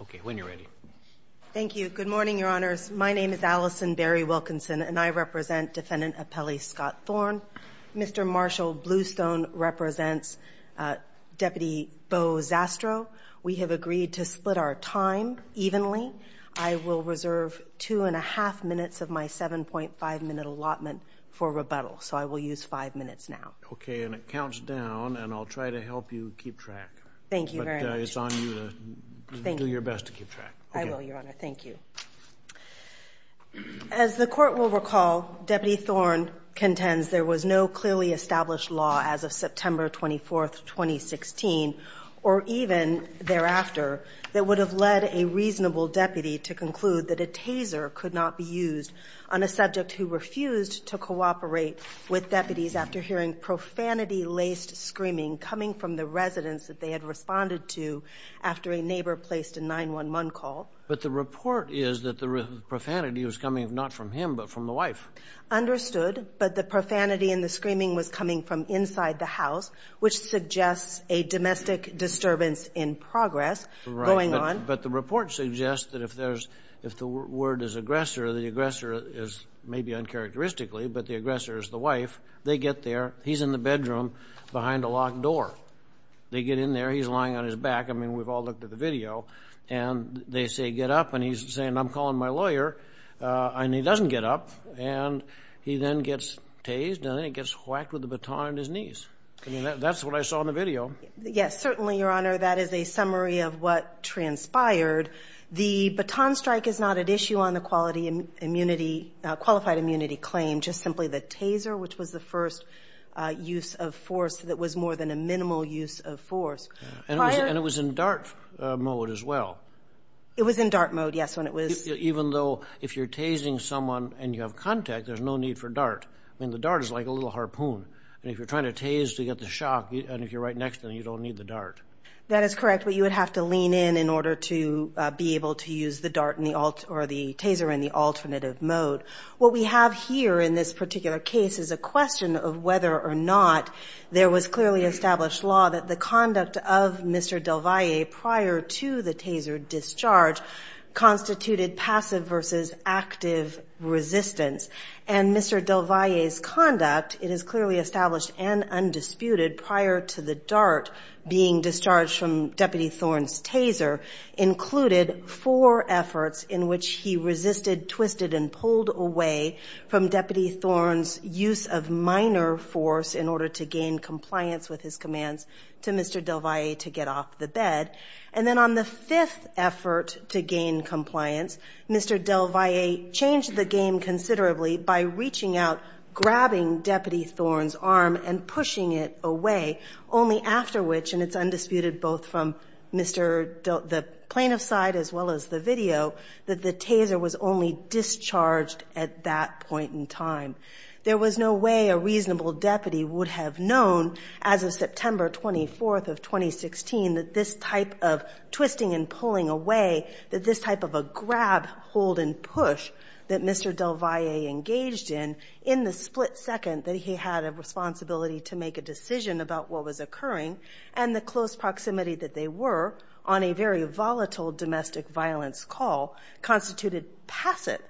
OK, when you're ready. Thank you. Good morning, Your Honors. My name is Allison Barry Wilkinson, and I represent Defendant Apelli Scott Thorne. Mr. Marshall Bluestone represents Deputy Bo Zastrow. We have agreed to split our time evenly. I will reserve two and a half minutes of my 7.5 minute allotment for rebuttal. So I will use five minutes now. Thank you very much. It's on you to do your best to keep track. I will, Your Honor. Thank you. As the Court will recall, Deputy Thorne contends there was no clearly established law as of September 24, 2016, or even thereafter, that would have led a reasonable deputy to conclude that a taser could not be used on a subject who refused to cooperate with deputies after hearing profanity-laced screaming coming from the residence that they had responded to after a neighbor placed a 911 call. But the report is that the profanity was coming not from him, but from the wife. Understood, but the profanity and the screaming was coming from inside the house, which suggests a domestic disturbance in progress going on. But the report suggests that if the word is aggressor, the aggressor is maybe uncharacteristically, but the aggressor is the wife. They get there. He's in the bedroom behind a locked door. They get in there. He's lying on his back. I mean, we've all looked at the video. And they say, get up. And he's saying, I'm calling my lawyer. And he doesn't get up. And he then gets tased, and then he gets whacked with a baton on his knees. I mean, that's what I saw in the video. Yes, certainly, Your Honor. That is a summary of what transpired. The baton strike is not at issue on the qualified immunity claim, just simply the taser, which was the first use of force that was more than a minimal use of force. And it was in dart mode as well. It was in dart mode, yes, when it was. Even though if you're tasing someone and you have contact, there's no need for dart. I mean, the dart is like a little harpoon. And if you're trying to tase to get the shock, and if you're right next to him, you don't need the dart. That is correct. But you would have to lean in in order to be able to use the dart or the taser in the alternative mode. What we have here in this particular case is a question of whether or not there was clearly established law that the conduct of Mr. Del Valle prior to the taser discharge constituted passive versus active resistance. And Mr. Del Valle's conduct, it is clearly established and undisputed prior to the dart being discharged from Deputy Thorne's taser, included four efforts in which he resisted, twisted, and pulled away from Deputy Thorne's use of minor force in order to gain compliance with his commands to Mr. Del Valle to get off the bed. And then on the fifth effort to gain compliance, Mr. Del Valle changed the game considerably by reaching out, grabbing Deputy Thorne's arm, and pushing it away, only after which, and it's undisputed both from the plaintiff's side as well as the video, that the taser was only discharged at that point in time. There was no way a reasonable deputy would have known as of September 24th of 2016 that this type of twisting and pulling away, that this type of a grab, hold, and push that Mr. Del Valle engaged in in the split second that he had a responsibility to make a decision about what was occurring, and the close proximity that they were on a very volatile domestic violence call constituted passive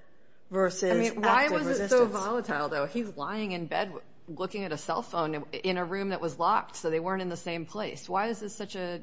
versus active resistance. I mean, why was it so volatile, though? He's lying in bed looking at a cell phone in a room that was locked, so they weren't in the same place. Why is this such a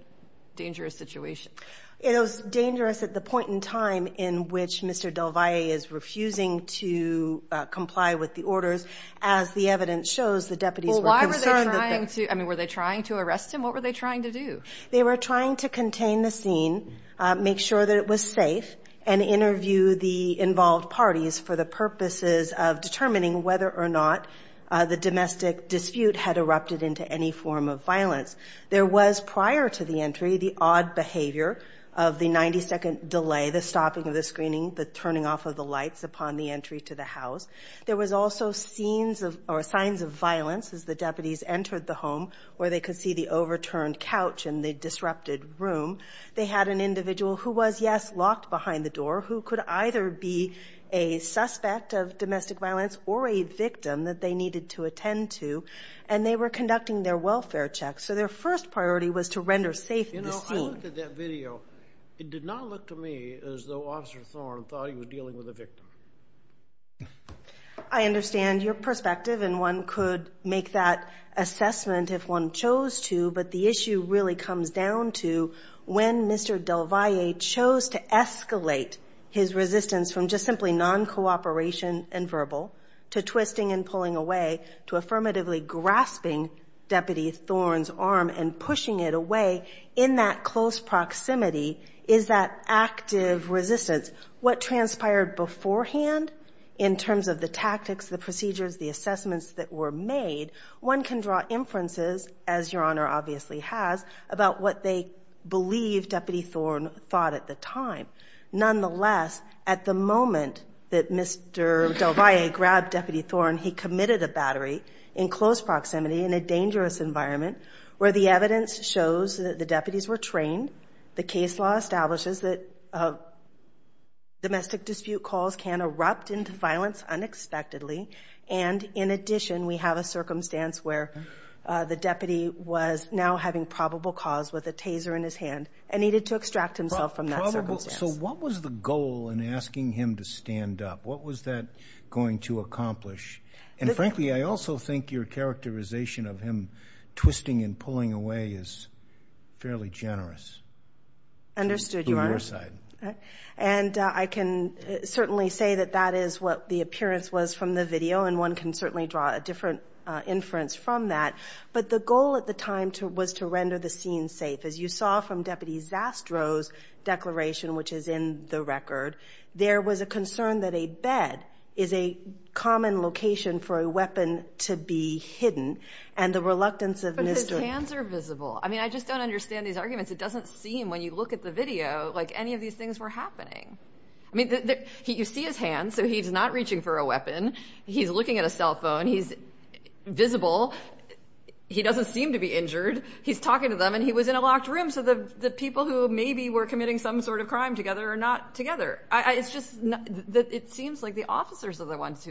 dangerous situation? It was dangerous at the point in time in which Mr. Del Valle is refusing to comply with the orders, as the evidence shows the deputies were concerned that they- Well, why were they trying to, I mean, were they trying to arrest him? What were they trying to do? They were trying to contain the scene, make sure that it was safe, and interview the involved parties for the purposes of determining whether or not the domestic dispute had erupted into any form of violence. There was, prior to the entry, the odd behavior of the 90-second delay, the stopping of the screening, the turning off of the lights upon the entry to the house. There was also scenes of, or signs of violence as the deputies entered the home, where they could see the overturned couch in the disrupted room. They had an individual who was, yes, locked behind the door, who could either be a suspect of domestic violence or a victim that they needed to attend to, and they were conducting their welfare checks. So their first priority was to render safe the scene. You know, I looked at that video. It did not look to me as though Officer Thorne thought he was dealing with a victim. I understand your perspective, and one could make that assessment if one chose to, but the issue really comes down to when Mr. Del Valle chose to escalate his resistance from just simply non-cooperation and verbal to twisting and pulling away, to affirmatively grasping Deputy Thorne's arm and pushing it away, in that close proximity is that active resistance. What transpired beforehand, in terms of the tactics, the procedures, the assessments that were made, one can draw inferences, as Your Honor obviously has, about what they believe Deputy Thorne thought at the time. Nonetheless, at the moment that Mr. Del Valle grabbed Deputy Thorne, he committed a battery in close proximity in a dangerous environment where the evidence shows that the deputies were trained, the case law establishes that domestic dispute calls can erupt into violence unexpectedly, and in addition, we have a circumstance where the deputy was now having probable cause with a taser in his hand and needed to extract himself from that circumstance. So what was the goal in asking him to stand up? What was that going to accomplish? And frankly, I also think your characterization of him twisting and pulling away is fairly generous. Understood, Your Honor. To your side. And I can certainly say that that is what the appearance was from the video, and one can certainly draw a different inference from that. But the goal at the time was to render the scene safe. As you saw from Deputy Zastrow's declaration, which is in the record, there was a concern that a bed is a common location for a weapon to be hidden, and the reluctance of Mr. But his hands are visible. I mean, I just don't understand these arguments. It doesn't seem, when you look at the video, like any of these things were happening. I mean, you see his hands, so he's not reaching for a weapon. He's looking at a cell phone. He's visible. He doesn't seem to be injured. He's talking to them, and he was in a locked room, so the people who maybe were committing some sort of crime together are not together. It's just, it seems like the officers are the ones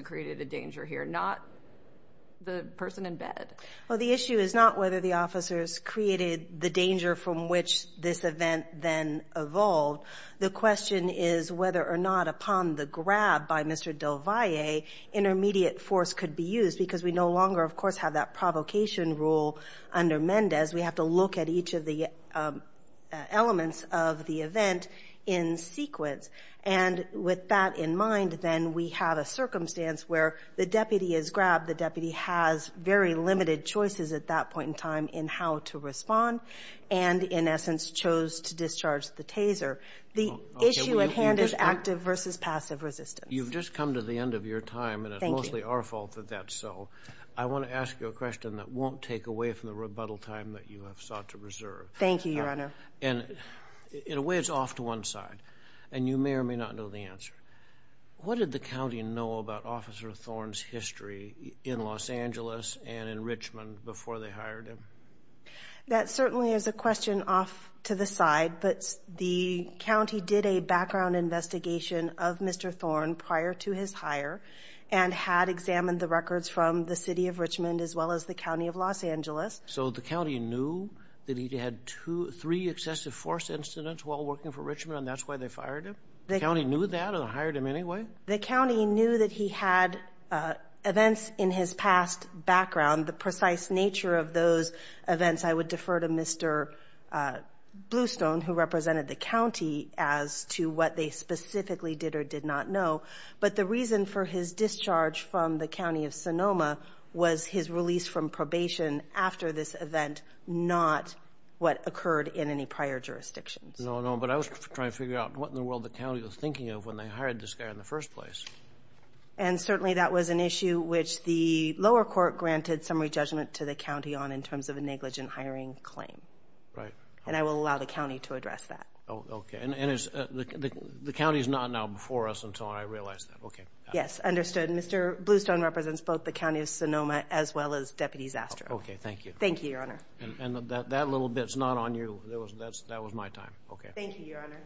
Well, the issue is not whether the officers created the danger from which this event then evolved. The question is whether or not, upon the grab by Mr. Del Valle, intermediate force could be used, because we no longer, of course, have that provocation rule under Mendez. We have to look at each of the elements of the event in sequence. And with that in mind, then, we have a circumstance where the deputy is grabbed. The deputy has very limited choices at that point in time in how to respond, and in essence, chose to discharge the taser. The issue at hand is active versus passive resistance. You've just come to the end of your time, and it's mostly our fault that that's so. I want to ask you a question that won't take away from the rebuttal time that you have sought to reserve. Thank you, Your Honor. And in a way, it's off to one side, and you may or may not know the answer. What did the county know about Officer Thorne's history in Los Angeles and in Richmond before they hired him? That certainly is a question off to the side, but the county did a background investigation of Mr. Thorne prior to his hire, and had examined the records from the city of Richmond as well as the county of Los Angeles. So the county knew that he had two, three excessive force incidents while working for Richmond, and that's why they fired him? The county knew that and hired him anyway? The county knew that he had events in his past background. The precise nature of those events, I would defer to Mr. Bluestone, who represented the county, as to what they specifically did or did not know. But the reason for his discharge from the county of Sonoma was his release from probation after this event, not what occurred in any prior jurisdictions. No, no, but I was trying to figure out what in the world the county was thinking of when they hired this guy in the first place. And certainly that was an issue which the lower court granted summary judgment to the county on in terms of a negligent hiring claim. Right. And I will allow the county to address that. Oh, okay, and the county's not now before us until I realize that, okay. Yes, understood. Mr. Bluestone represents both the county of Sonoma as well as Deputies Astro. Okay, thank you. Thank you, Your Honor. And that little bit's not on you, that was my time. Okay. Thank you, Your Honor.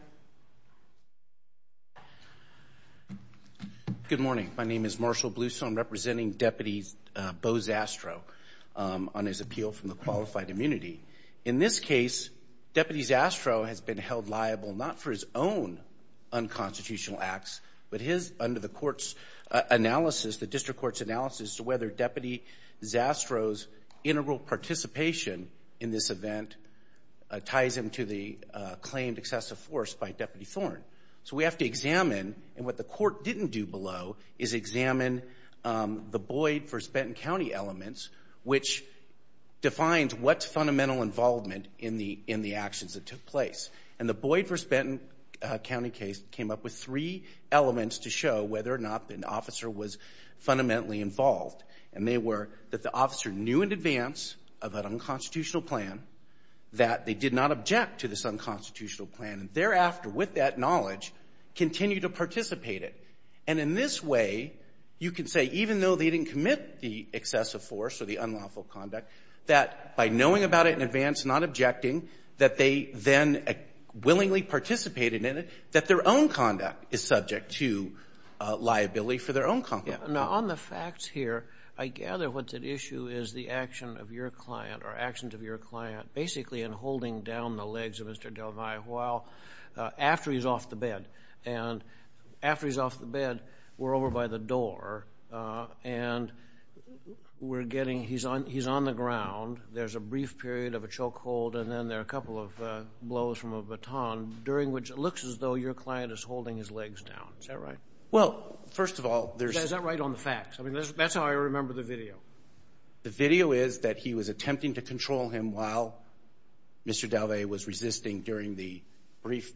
Good morning, my name is Marshall Bluestone representing Deputies Bo Zastrow on his appeal from the qualified immunity. In this case, Deputies Astro has been held liable not for his own unconstitutional acts, but his under the court's analysis, the district court's analysis to whether Deputy Zastrow's integral participation in this event ties him to the claimed excessive force by Deputy Thorne. So we have to examine, and what the court didn't do below is examine the Boyd v. Benton County elements, which defines what's fundamental involvement in the actions that took place. And the Boyd v. Benton County case came up with three elements to show whether or not an officer was fundamentally involved. And they were that the officer knew in advance of an unconstitutional plan that they did not object to this unconstitutional plan. And thereafter, with that knowledge, continue to participate it. And in this way, you can say, even though they didn't commit the excessive force or the unlawful conduct, that by knowing about it in advance, not objecting, that they then willingly participated in it, that their own conduct is subject to liability for their own conflict. Now, on the facts here, I gather what's at issue is the action of your client or actions of your client, basically in holding down the legs of Mr. Del Valle, after he's off the bed. And after he's off the bed, we're over by the door, and we're getting, he's on the ground, there's a brief period of a choke hold, and then there are a couple of blows from a baton, during which it looks as though your client is holding his legs down. Is that right? Well, first of all, there's- Is that right on the facts? I mean, that's how I remember the video. The video is that he was attempting to control him while Mr. Del Valle was resisting during the brief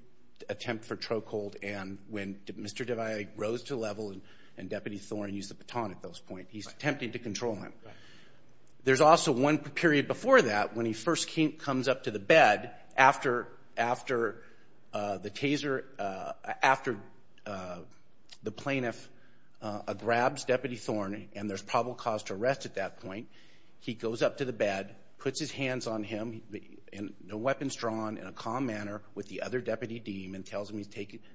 attempt for choke hold, and when Mr. Del Valle rose to the level, and Deputy Thorne used the baton at this point, he's attempting to control him. There's also one period before that, when he first comes up to the bed, after the taser, after the plaintiff grabs Deputy Thorne, and there's probable cause to arrest at that point, he goes up to the bed, puts his hands on him, and no weapons drawn, in a calm manner, with the other deputy deem, and tells him he's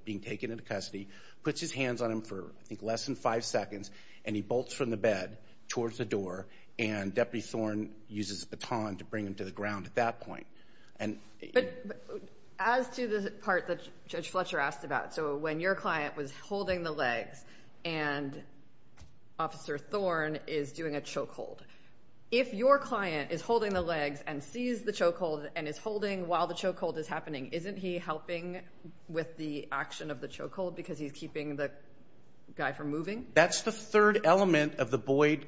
being taken into custody, puts his hands on him for, I think, less than five seconds, and he bolts from the bed towards the door, and Deputy Thorne uses a baton to bring him to the ground at that point. As to the part that Judge Fletcher asked about, so when your client was holding the legs, and Officer Thorne is doing a choke hold, if your client is holding the legs, and sees the choke hold, and is holding while the choke hold is happening, isn't he helping with the action of the choke hold, because he's keeping the guy from moving? That's the third element of the Boyd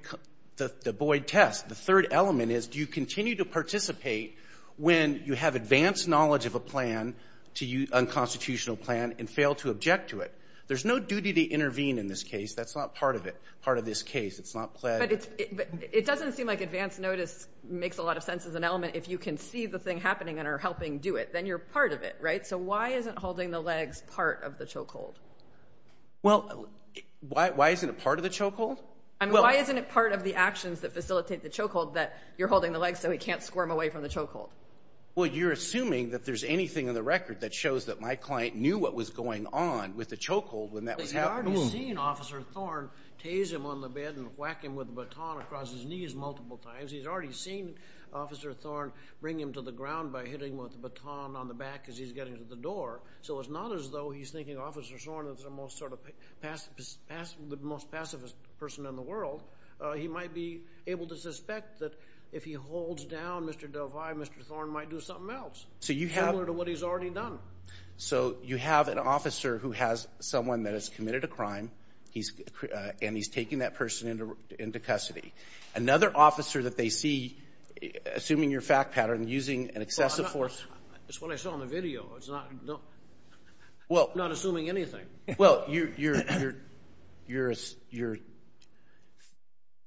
test. The third element is, do you continue to participate when you have advanced knowledge of a plan, to use unconstitutional plan, and fail to object to it? There's no duty to intervene in this case. That's not part of it, part of this case. It's not planned. But it doesn't seem like advanced notice makes a lot of sense as an element, if you can see the thing happening, and are helping do it. Then you're part of it, right? So why isn't holding the legs part of the choke hold? Well, why isn't it part of the choke hold? I mean, why isn't it part of the actions that facilitate the choke hold, that you're holding the legs, so he can't squirm away from the choke hold? Well, you're assuming that there's anything in the record that shows that my client knew what was going on with the choke hold, when that was happening. He's already seen Officer Thorne tase him on the bed, and whack him with a baton across his knees multiple times. He's already seen Officer Thorne bring him to the ground by hitting him with a baton on the back as he's getting to the door. So it's not as though he's thinking Officer Thorne is the most sort of, the most pacifist person in the world. He might be able to suspect that if he holds down Mr. Del Valle, Mr. Thorne might do something else. So you have- Similar to what he's already done. So you have an officer who has someone that has committed a crime, and he's taking that person into custody. Another officer that they see, assuming your fact pattern, using an excessive force- It's what I saw on the video. I'm not assuming anything. Well, you're,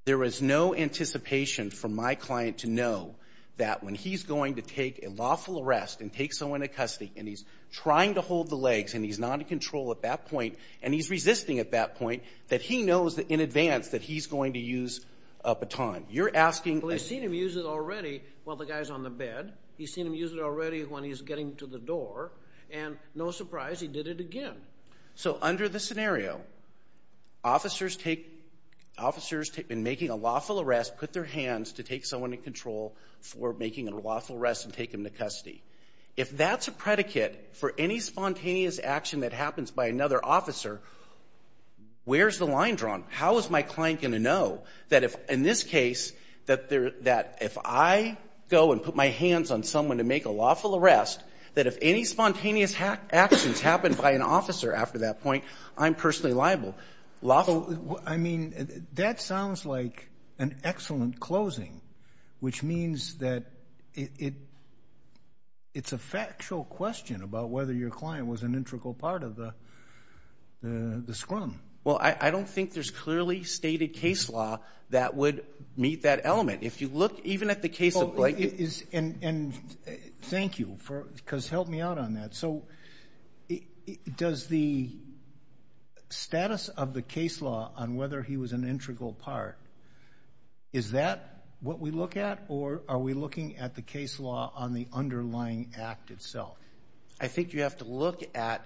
there was no anticipation for my client to know that when he's going to take a lawful arrest, and take someone into custody, and he's trying to hold the legs, and he's not in control at that point, and he's resisting at that point, that he knows that in advance that he's going to use a baton. You're asking- Well, he's seen him use it already while the guy's on the bed. He's seen him use it already when he's getting to the door, and no surprise, he did it again. So under the scenario, officers take, officers in making a lawful arrest put their hands to take someone in control for making a lawful arrest and take him to custody. If that's a predicate for any spontaneous action that happens by another officer, where's the line drawn? How is my client going to know that if, in this case, that if I go and put my hands on someone to make a lawful arrest, that if any spontaneous actions happen by an officer after that point, I'm personally liable. Lawful- I mean, that sounds like an excellent closing, which means that it's a factual question about whether your client was an integral part of the scrum. Well, I don't think there's clearly stated case law that would meet that element. If you look even at the case of Blake- And thank you for, because help me out on that. So does the status of the case law on whether he was an integral part, is that what we look at, or are we looking at the case law on the underlying act itself? I think you have to look at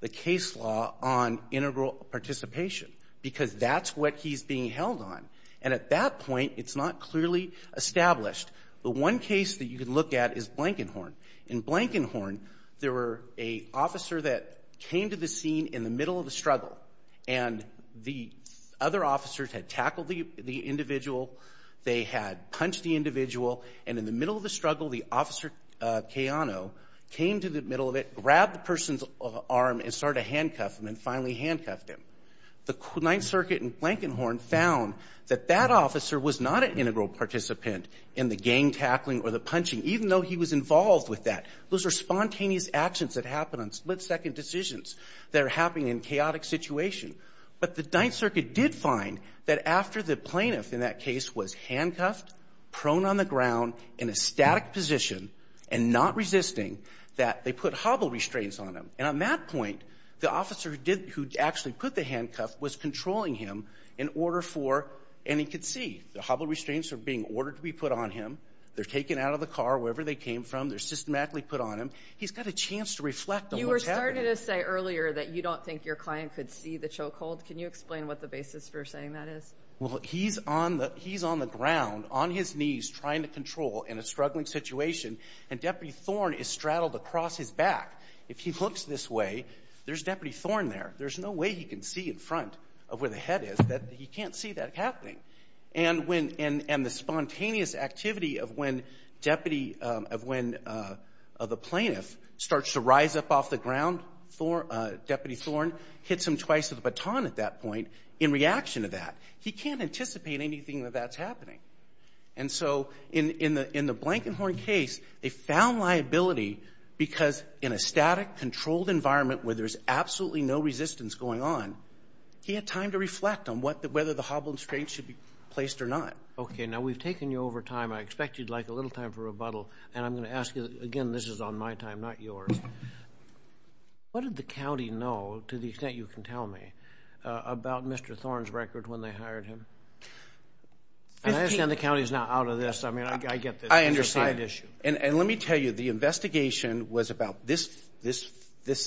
the case law on integral participation, because that's what he's being held on. And at that point, it's not clearly established. The one case that you can look at is Blankenhorn. In Blankenhorn, there were a officer that came to the scene in the middle of the struggle, and the other officers had tackled the individual, they had punched the individual, and in the middle of the struggle, the officer, Keano, came to the middle of it, grabbed the person's arm, and started to handcuff him, and finally handcuffed him. The Ninth Circuit in Blankenhorn found that that officer was not an integral participant in the gang tackling or the punching, even though he was involved with that. Those are spontaneous actions that happen on split-second decisions that are happening in chaotic situations. But the Ninth Circuit did find that after the plaintiff in that case was handcuffed, prone on the ground, in a static position, and not resisting, that they put hobble restraints on him. And on that point, the officer who actually put the handcuff was controlling him in order for, and he could see, the hobble restraints are being ordered to be put on him, they're taken out of the car, wherever they came from, they're systematically put on him. He's got a chance to reflect on what's happening. You were starting to say earlier that you don't think your client could see the choke hold. Can you explain what the basis for saying that is? Well, he's on the ground, on his knees, trying to control in a struggling situation, and Deputy Thorn is straddled across his back. If he looks this way, there's Deputy Thorn there. There's no way he can see in front of where the head is, that he can't see that happening. And the spontaneous activity of when the plaintiff starts to rise up off the ground, Deputy Thorn, hits him twice with a baton at that point, in reaction to that, he can't anticipate anything that that's happening. And so in the Blankenhorn case, they found liability because in a static, controlled environment where there's absolutely no resistance going on, he had time to reflect on whether the hobble restraints should be placed or not. Okay, now we've taken you over time. I expect you'd like a little time for rebuttal. And I'm going to ask you, again, this is on my time, not yours. What did the county know, to the extent you can tell me, about Mr. Thorn's record when they hired him? And I understand the county's not out of this. I mean, I get this. I understand. It's a side issue. And let me tell you, the investigation was about this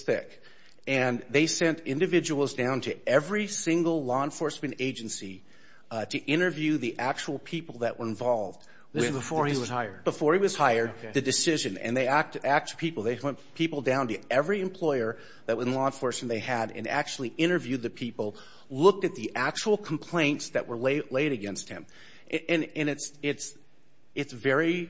thick. And they sent individuals down to every single law enforcement agency to interview the actual people that were involved. This was before he was hired? Before he was hired, the decision. And they asked people, they sent people down to every employer that was in law enforcement they had and actually interviewed the people, looked at the actual complaints that were laid against him. And it's very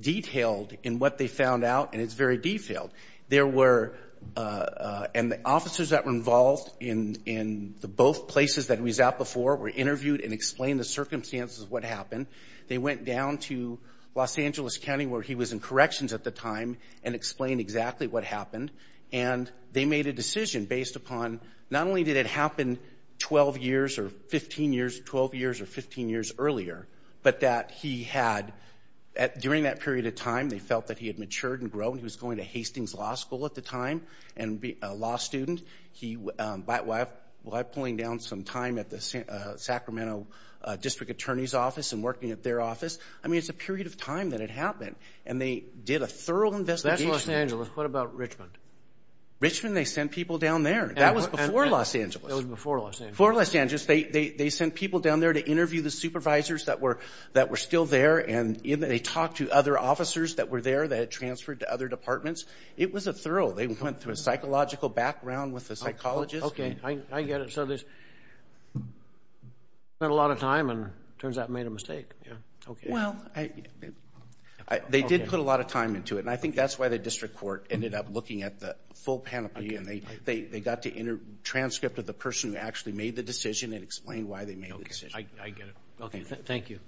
detailed in what they found out, and it's very detailed. There were, and the officers that were involved in both places that he was at before were interviewed and explained the circumstances of what happened. They went down to Los Angeles County where he was in corrections at the time and explained exactly what happened. And they made a decision based upon, not only did it happen 12 years or 15 years, 12 years or 15 years earlier, but that he had, during that period of time, they felt that he had matured and grown. He was going to Hastings Law School at the time and be a law student. He, by pulling down some time at the Sacramento District Attorney's Office and working at their office, I mean, it's a period of time that it happened. And they did a thorough investigation. That's Los Angeles, what about Richmond? Richmond, they sent people down there. That was before Los Angeles. That was before Los Angeles. Before Los Angeles, they sent people down there to interview the supervisors that were still there. And they talked to other officers that were there that had transferred to other departments. It was a thorough, they went through a psychological background with a psychologist. Okay, I get it. So they spent a lot of time and turns out made a mistake. Well, they did put a lot of time into it. And I think that's why the district court ended up looking at the full panoply. And they got the inner transcript of the person who actually made the decision and explained why they made the decision. I get it. Okay, thank you.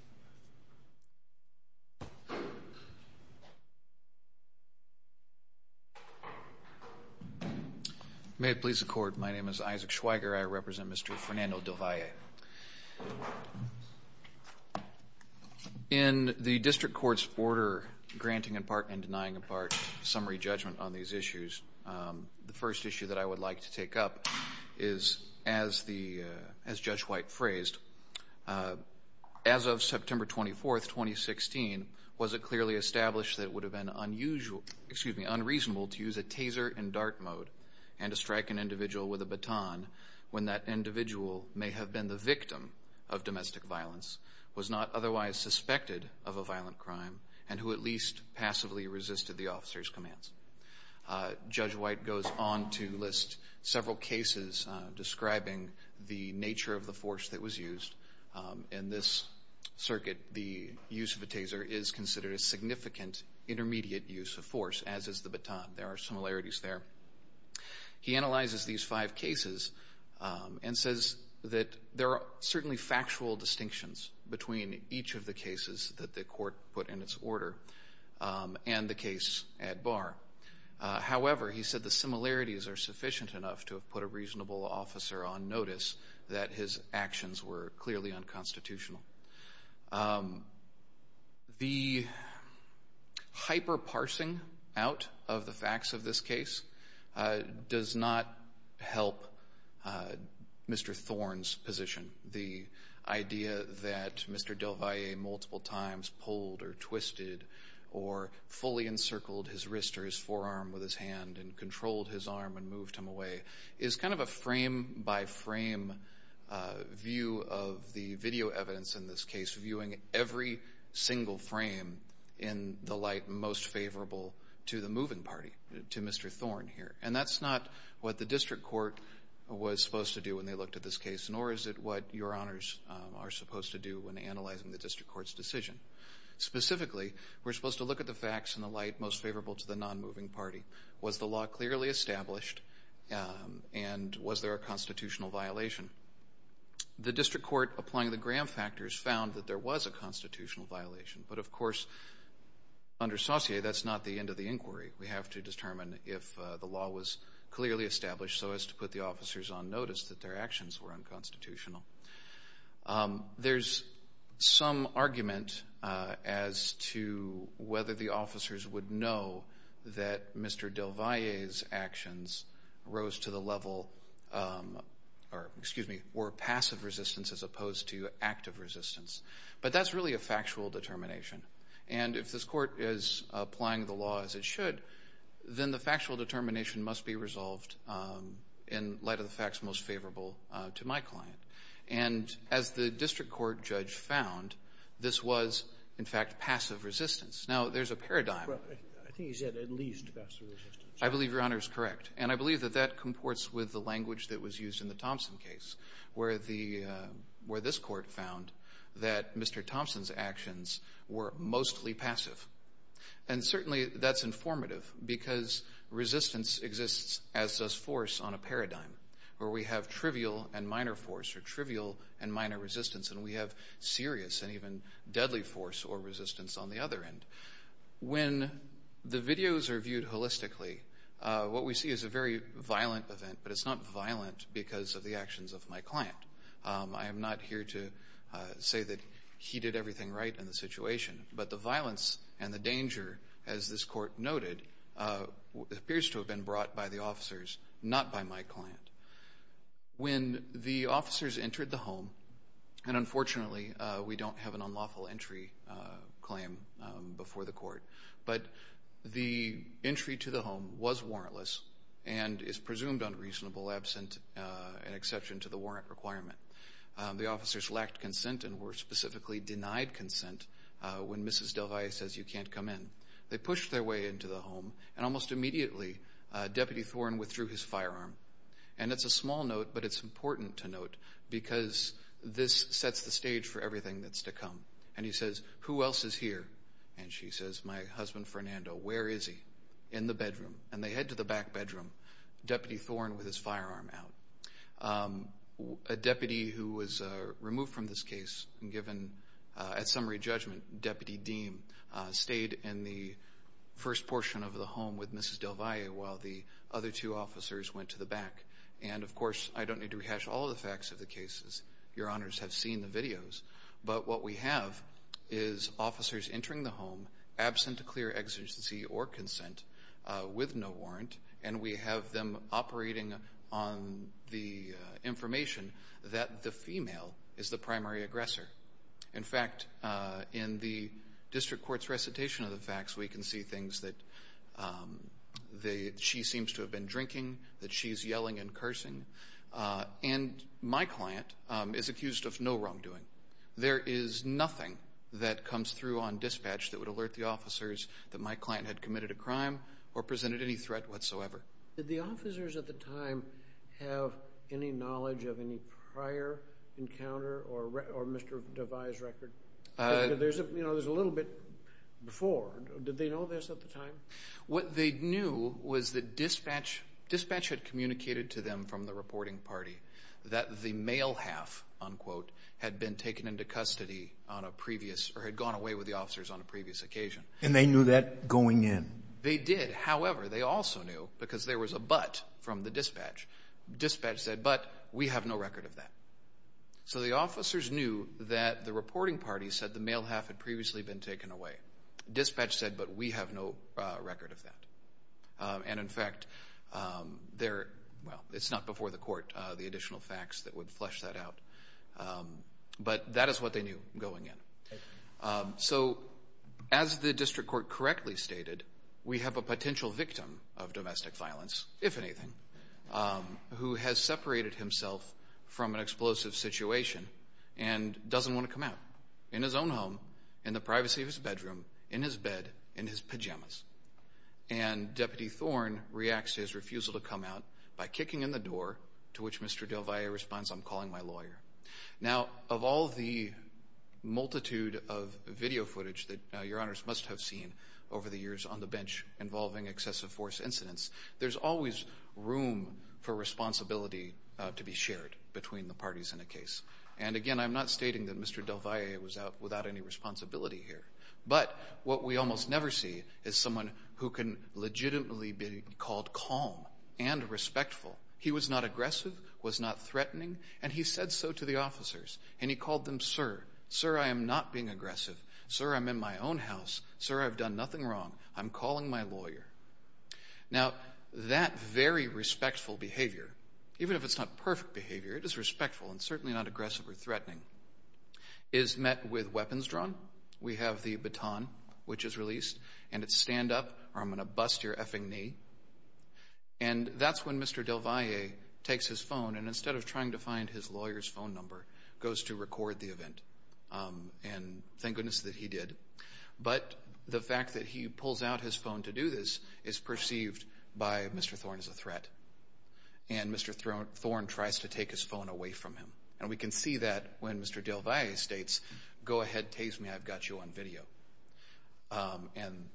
May it please the court. My name is Isaac Schweiger. I represent Mr. Fernando Del Valle. In the district court's order, granting in part and denying in part summary judgment on these issues, the first issue that I would like to take up is as Judge White phrased, as of September 24th, 2016, was it clearly established that it would have been unusual, excuse me, unreasonable to use a taser in dart mode and to strike an individual with a baton when that individual may have been the victim of domestic violence, was not otherwise suspected of a violent crime, and who at least passively resisted the officer's commands. Judge White goes on to list several cases describing the nature of the force that was used. In this circuit, the use of a taser is considered a significant intermediate use of force, as is the baton. There are similarities there. He analyzes these five cases and says that there are certainly factual distinctions between each of the cases that the court put in its order and the case at bar. However, he said the similarities are sufficient enough to have put a reasonable officer on notice that his actions were clearly unconstitutional. The hyper-parsing out of the facts of this case does not help Mr. Thorne's position. The idea that Mr. Delvalle multiple times pulled or twisted or fully encircled his wrist or his forearm with his hand and controlled his arm and moved him away is kind of a frame-by-frame view of the video evidence, in this case, viewing every single frame in the light most favorable to the moving party, to Mr. Thorne here. And that's not what the district court was supposed to do when they looked at this case, nor is it what your honors are supposed to do when analyzing the district court's decision. Specifically, we're supposed to look at the facts in the light most favorable to the non-moving party. Was the law clearly established and was there a constitutional violation? The district court, applying the Graham factors, found that there was a constitutional violation, but of course, under Saussure, that's not the end of the inquiry. We have to determine if the law was clearly established so as to put the officers on notice that their actions were unconstitutional. There's some argument as to whether the officers would know that Mr. Delvalle's actions rose to the level, or, excuse me, were passive resistance as opposed to active resistance. But that's really a factual determination. And if this court is applying the law as it should, then the factual determination must be resolved in light of the facts most favorable to my client. And as the district court judge found, this was, in fact, passive resistance. Now, there's a paradigm. I think he said at least passive resistance. I believe your honor is correct. And I believe that that comports with the language that was used in the Thompson case, where this court found that Mr. Thompson's actions were mostly passive. And certainly, that's informative because resistance exists as does force on a paradigm where we have trivial and minor force, or trivial and minor resistance, and we have serious and even deadly force or resistance on the other end. When the videos are viewed holistically, what we see is a very violent event, but it's not violent because of the actions of my client. I am not here to say that he did everything right in the situation, but the violence and the danger, as this court noted, appears to have been brought by the officers, not by my client. When the officers entered the home, and unfortunately, we don't have an unlawful entry claim before the court, but the entry to the home was warrantless and is presumed unreasonable absent an exception to the warrant requirement. The officers lacked consent and were specifically denied consent when Mrs. Del Valle says, you can't come in. They pushed their way into the home, and almost immediately, Deputy Thorne withdrew his firearm. And it's a small note, but it's important to note because this sets the stage for everything that's to come. And he says, who else is here? And she says, my husband, Fernando, where is he? In the bedroom. And they head to the back bedroom. Deputy Thorne with his firearm out. A deputy who was removed from this case and given, at summary judgment, Deputy Deem, stayed in the first portion of the home with Mrs. Del Valle while the other two officers went to the back. And of course, I don't need to rehash all of the facts of the cases. Your honors have seen the videos. But what we have is officers entering the home absent a clear exigency or consent with no warrant. And we have them operating on the information that the female is the primary aggressor. In fact, in the district court's recitation of the facts, we can see things that she seems to have been drinking, that she's yelling and cursing. And my client is accused of no wrongdoing. There is nothing that comes through on dispatch that would alert the officers that my client had committed a crime or presented any threat whatsoever. Did the officers at the time have any knowledge of any prior encounter or Mr. Del Valle's record? There's a little bit before. Did they know this at the time? What they knew was that dispatch had communicated to them from the reporting party that the male half, unquote, had been taken into custody on a previous, or had gone away with the officers on a previous occasion. And they knew that going in? They did. However, they also knew, because there was a but from the dispatch. Dispatch said, but we have no record of that. So the officers knew that the reporting party said the male half had previously been taken away. Dispatch said, but we have no record of that. And in fact, they're, well, it's not before the court, the additional facts that would flesh that out. But that is what they knew going in. Okay. So as the district court correctly stated, we have a potential victim of domestic violence, if anything, who has separated himself from an explosive situation and doesn't want to come out, in his own home, in the privacy of his bedroom, in his bed, in his pajamas. And Deputy Thorn reacts to his refusal to come out by kicking in the door, to which Mr. Del Valle responds, I'm calling my lawyer. Now, of all the multitude of video footage that your honors must have seen over the years on the bench involving excessive force incidents, there's always room for responsibility to be shared between the parties in a case. And again, I'm not stating that Mr. Del Valle was out without any responsibility here. But what we almost never see is someone who can legitimately be called calm and respectful. He was not aggressive, was not threatening. And he said so to the officers. And he called them, sir. Sir, I am not being aggressive. Sir, I'm in my own house. Sir, I've done nothing wrong. I'm calling my lawyer. Now, that very respectful behavior, even if it's not perfect behavior, it is respectful and certainly not aggressive or threatening, is met with weapons drawn. We have the baton, which is released, and it's stand up, or I'm gonna bust your effing knee. And that's when Mr. Del Valle takes his phone and instead of trying to find his lawyer's phone number, goes to record the event. And thank goodness that he did. But the fact that he pulls out his phone to do this is perceived by Mr. Thorne as a threat. And Mr. Thorne tries to take his phone away from him. And we can see that when Mr. Del Valle states, go ahead, tase me, I've got you on video. And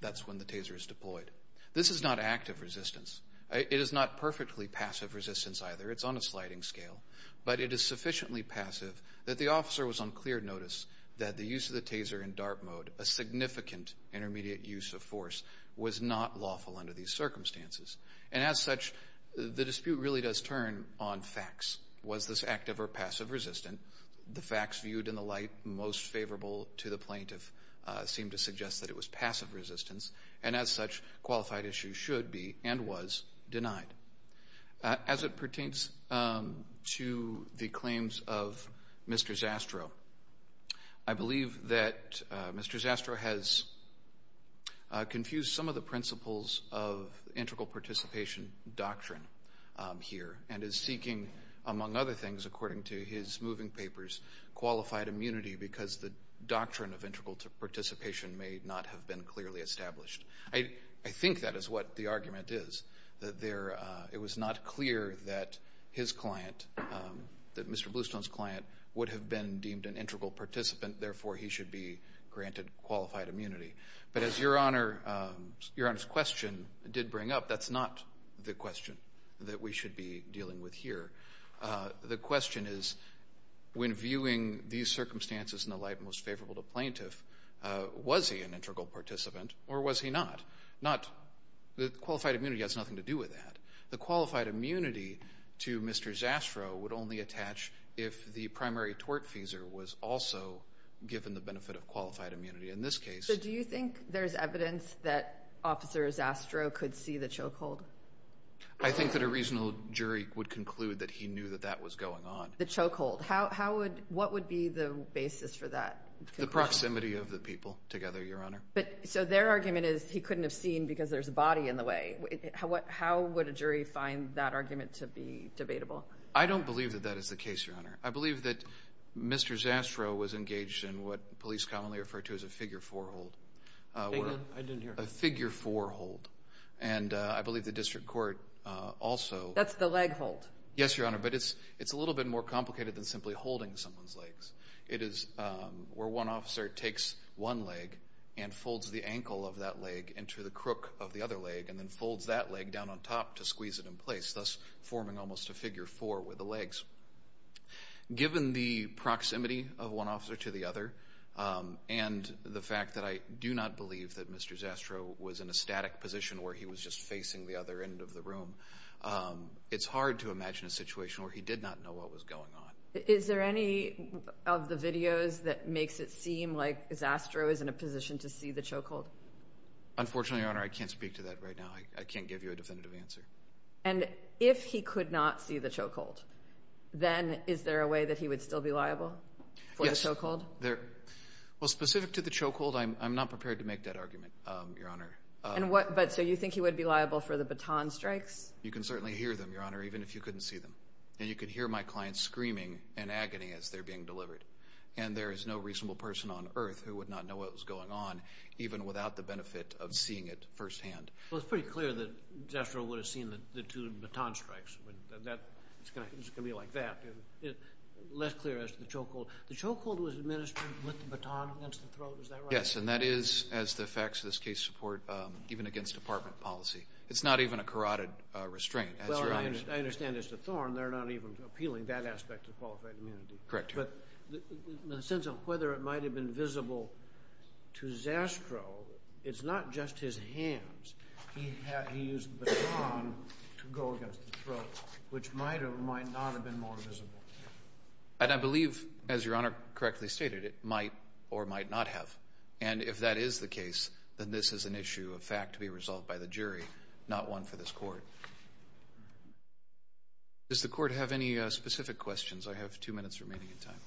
that's when the taser is deployed. This is not active resistance. It is not perfectly passive resistance either. It's on a sliding scale. But it is sufficiently passive that the officer was on clear notice that the use of the taser in DART mode, a significant intermediate use of force, was not lawful under these circumstances. And as such, the dispute really does turn on facts. Was this active or passive resistant? The facts viewed in the light most favorable to the plaintiff seem to suggest that it was passive resistance. And as such, qualified issue should be and was denied. As it pertains to the claims of Mr. Zastrow, I believe that Mr. Zastrow has confused some of the principles of integral participation doctrine here and is seeking, among other things, according to his moving papers, qualified immunity because the doctrine of integral participation may not have been clearly established. I think that is what the argument is, that it was not clear that his client, that Mr. Bluestone's client, would have been deemed an integral participant, therefore he should be granted qualified immunity. But as Your Honor's question did bring up, that's not the question that we should be dealing with here. The question is, when viewing these circumstances in the light most favorable to plaintiff, was he an integral participant or was he not? The qualified immunity has nothing to do with that. The qualified immunity to Mr. Zastrow would only attach if the primary tortfeasor was also given the benefit of qualified immunity. In this case- So do you think there's evidence that Officer Zastrow could see the chokehold? I think that a reasonable jury would conclude that he knew that that was going on. The chokehold, what would be the basis for that conclusion? The proximity of the people together, Your Honor. So their argument is he couldn't have seen because there's a body in the way. How would a jury find that argument to be debatable? I don't believe that that is the case, Your Honor. I believe that Mr. Zastrow was engaged in what police commonly refer to as a figure four hold. I didn't hear. A figure four hold. And I believe the district court also- That's the leg hold. Yes, Your Honor, but it's a little bit more complicated than simply holding someone's legs. It is where one officer takes one leg and folds the ankle of that leg into the crook of the other leg and then folds that leg down on top to squeeze it in place, thus forming almost a figure four with the legs. Given the proximity of one officer to the other and the fact that I do not believe that Mr. Zastrow was in a static position where he was just facing the other end of the room, it's hard to imagine a situation where he did not know what was going on. Is there any of the videos that makes it seem like Zastrow is in a position to see the choke hold? Unfortunately, Your Honor, I can't speak to that right now. I can't give you a definitive answer. And if he could not see the choke hold, then is there a way that he would still be liable for the choke hold? Well, specific to the choke hold, I'm not prepared to make that argument, Your Honor. But so you think he would be liable for the baton strikes? You can certainly hear them, Your Honor, even if you couldn't see them. And you could hear my clients screaming in agony as they're being delivered. And there is no reasonable person on earth who would not know what was going on, even without the benefit of seeing it firsthand. Well, it's pretty clear that Zastrow would have seen the two baton strikes. That's gonna be like that. Less clear as to the choke hold. The choke hold was administered with the baton against the throat, is that right? Yes, and that is, as the facts of this case support, even against department policy. It's not even a carotid restraint, as Your Honor. I understand as to Thorne, they're not even appealing that aspect of qualified immunity. Correct, Your Honor. But the sense of whether it might have been visible to Zastrow, it's not just his hands. He used the baton to go against the throat, which might or might not have been more visible. And I believe, as Your Honor correctly stated, it might or might not have. And if that is the case, then this is an issue of fact to be resolved by the jury, not one for this court. Does the court have any specific questions? I have two minutes remaining in time.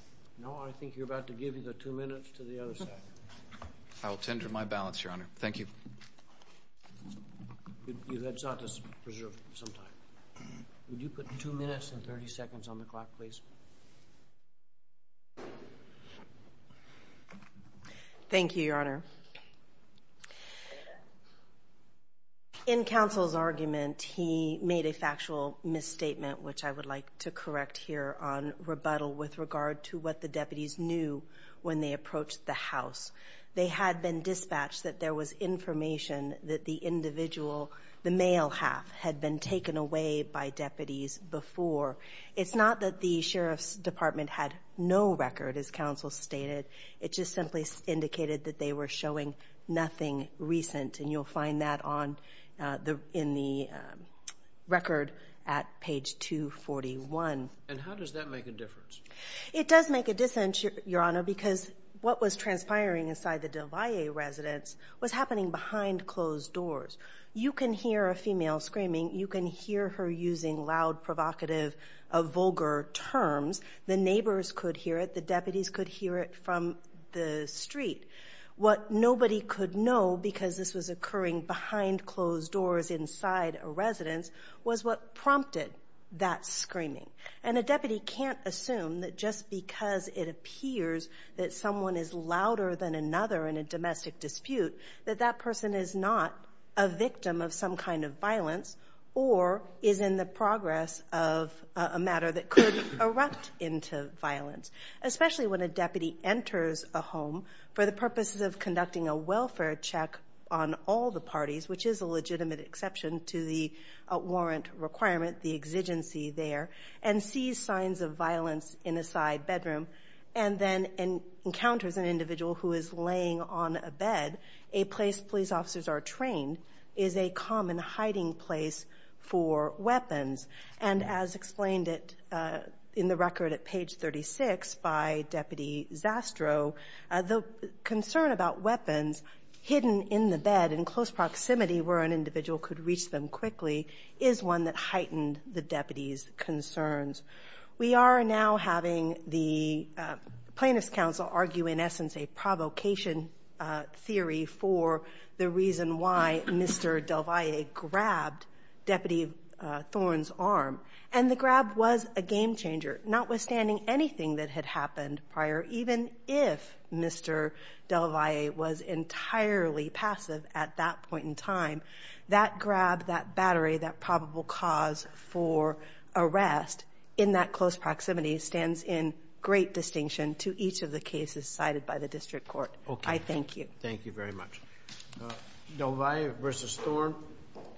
No, I think you're about to give the two minutes to the other side. I'll tender my balance, Your Honor. Thank you. You've had time to preserve some time. Would you put two minutes and 30 seconds on the clock, please? Thank you, Your Honor. In counsel's argument, he made a factual misstatement, which I would like to correct here on rebuttal with regard to what the deputies knew when they approached the house. They had been dispatched that there was information that the individual, the male half, had been taken away by deputies before. It's not that the sheriff's department had no record, as counsel stated. It just simply indicated that they were showing nothing recent. And you'll find that in the record at page two. And how does that make a difference? It does make a difference, Your Honor, because what was transpiring inside the Del Valle residence was happening behind closed doors. You can hear a female screaming. You can hear her using loud, provocative, vulgar terms. The neighbors could hear it. The deputies could hear it from the street. What nobody could know, because this was occurring behind closed doors inside a residence, was what prompted that screaming. And a deputy can't assume that just because it appears that someone is louder than another in a domestic dispute, that that person is not a victim of some kind of violence or is in the progress of a matter that could erupt into violence, especially when a deputy enters a home for the purposes of conducting a welfare check on all the parties, which is a legitimate exception to the warrant requirement, the exigency there, and sees signs of violence in a side bedroom and then encounters an individual who is laying on a bed, a place police officers are trained, is a common hiding place for weapons. And as explained in the record at page 36 by Deputy Zastrow, the concern about weapons hidden in the bed in close proximity where an individual could reach them quickly is one that heightened the deputy's concerns. We are now having the plaintiff's counsel argue in essence a provocation theory for the reason why Mr. Del Valle grabbed Deputy Thorne's arm. And the grab was a game changer, notwithstanding anything that had happened prior, even if Mr. Del Valle was entirely passive at that point in time. That grab, that battery, that probable cause for arrest in that close proximity stands in great distinction to each of the cases cited by the district court. I thank you. Thank you very much. Del Valle versus Thorne,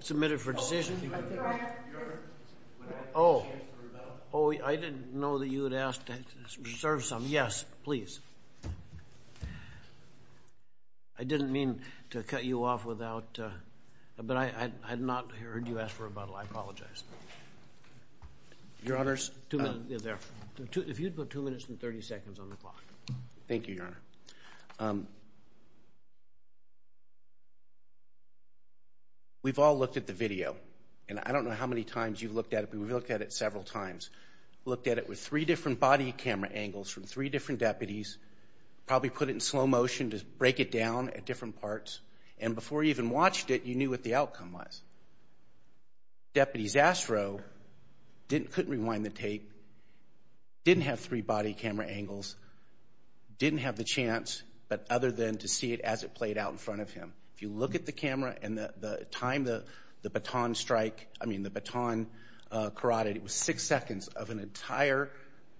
submitted for decision. Oh, I didn't know that you had asked to serve some. Yes, please. I didn't mean to cut you off without, but I had not heard you ask for a bottle. I apologize. Your Honors. Two minutes, there. If you'd put two minutes and 30 seconds on the clock. Thank you, Your Honor. We've all looked at the video, and I don't know how many times you've looked at it, but we've looked at it several times. Looked at it with three different body camera angles from three different deputies, probably put it in slow motion to break it down at different parts, and before you even watched it, you knew what the outcome was. Deputy Zasrow couldn't rewind the tape, didn't have three body camera angles, didn't have the chance, but other than to see it as it played out in front of him. If you look at the camera and the time the baton strike, I mean, the baton carotid, it was six seconds of an entire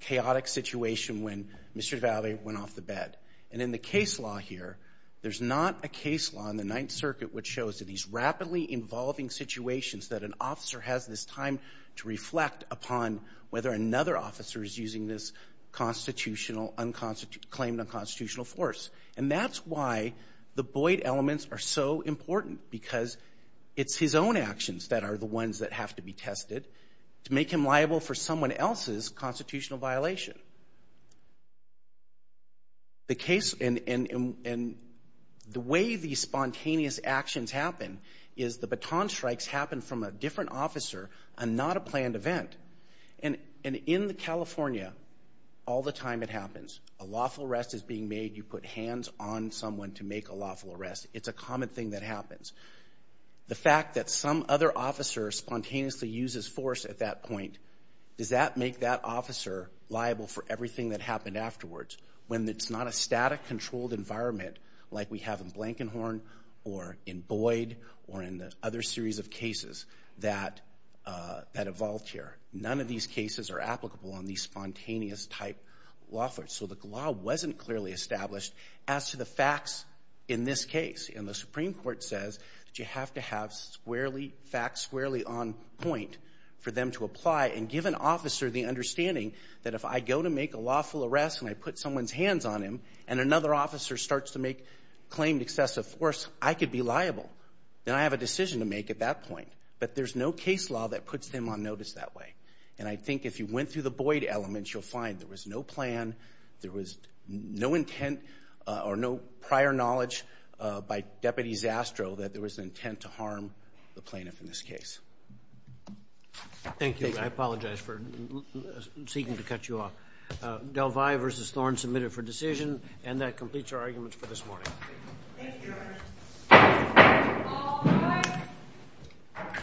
chaotic situation when Mr. DiValle went off the bed. And in the case law here, there's not a case law in the Ninth Circuit which shows that these rapidly involving situations that an officer has this time to reflect upon whether another officer is using this constitutional, claimed unconstitutional force. And that's why the Boyd elements are so important because it's his own actions that are the ones that have to be tested to make him liable for someone else's constitutional violation. The case, and the way these spontaneous actions happen is the baton strikes happen from a different officer and not a planned event. And in California, all the time it happens. A lawful arrest is being made, you put hands on someone to make a lawful arrest. It's a common thing that happens. The fact that some other officer spontaneously uses force at that point, does that make that officer liable for everything that happened afterwards? When it's not a static controlled environment like we have in Blankenhorn or in Boyd or in the other series of cases that evolved here. None of these cases are applicable on these spontaneous type law firms. So the law wasn't clearly established as to the facts in this case. And the Supreme Court says that you have to have squarely facts, squarely on point for them to apply and give an officer the understanding that if I go to make a lawful arrest and I put someone's hands on him and another officer starts to make claimed excessive force, I could be liable. Then I have a decision to make at that point. But there's no case law that puts them on notice that way. And I think if you went through the Boyd elements, you'll find there was no plan, there was no intent or no prior knowledge by Deputy Zastrow that there was intent to harm the plaintiff in this case. Thank you. I apologize for seeking to cut you off. Del Valle versus Thorne submitted for decision and that completes our arguments for this morning. Thank you. Thank you, Your Honor. All rise.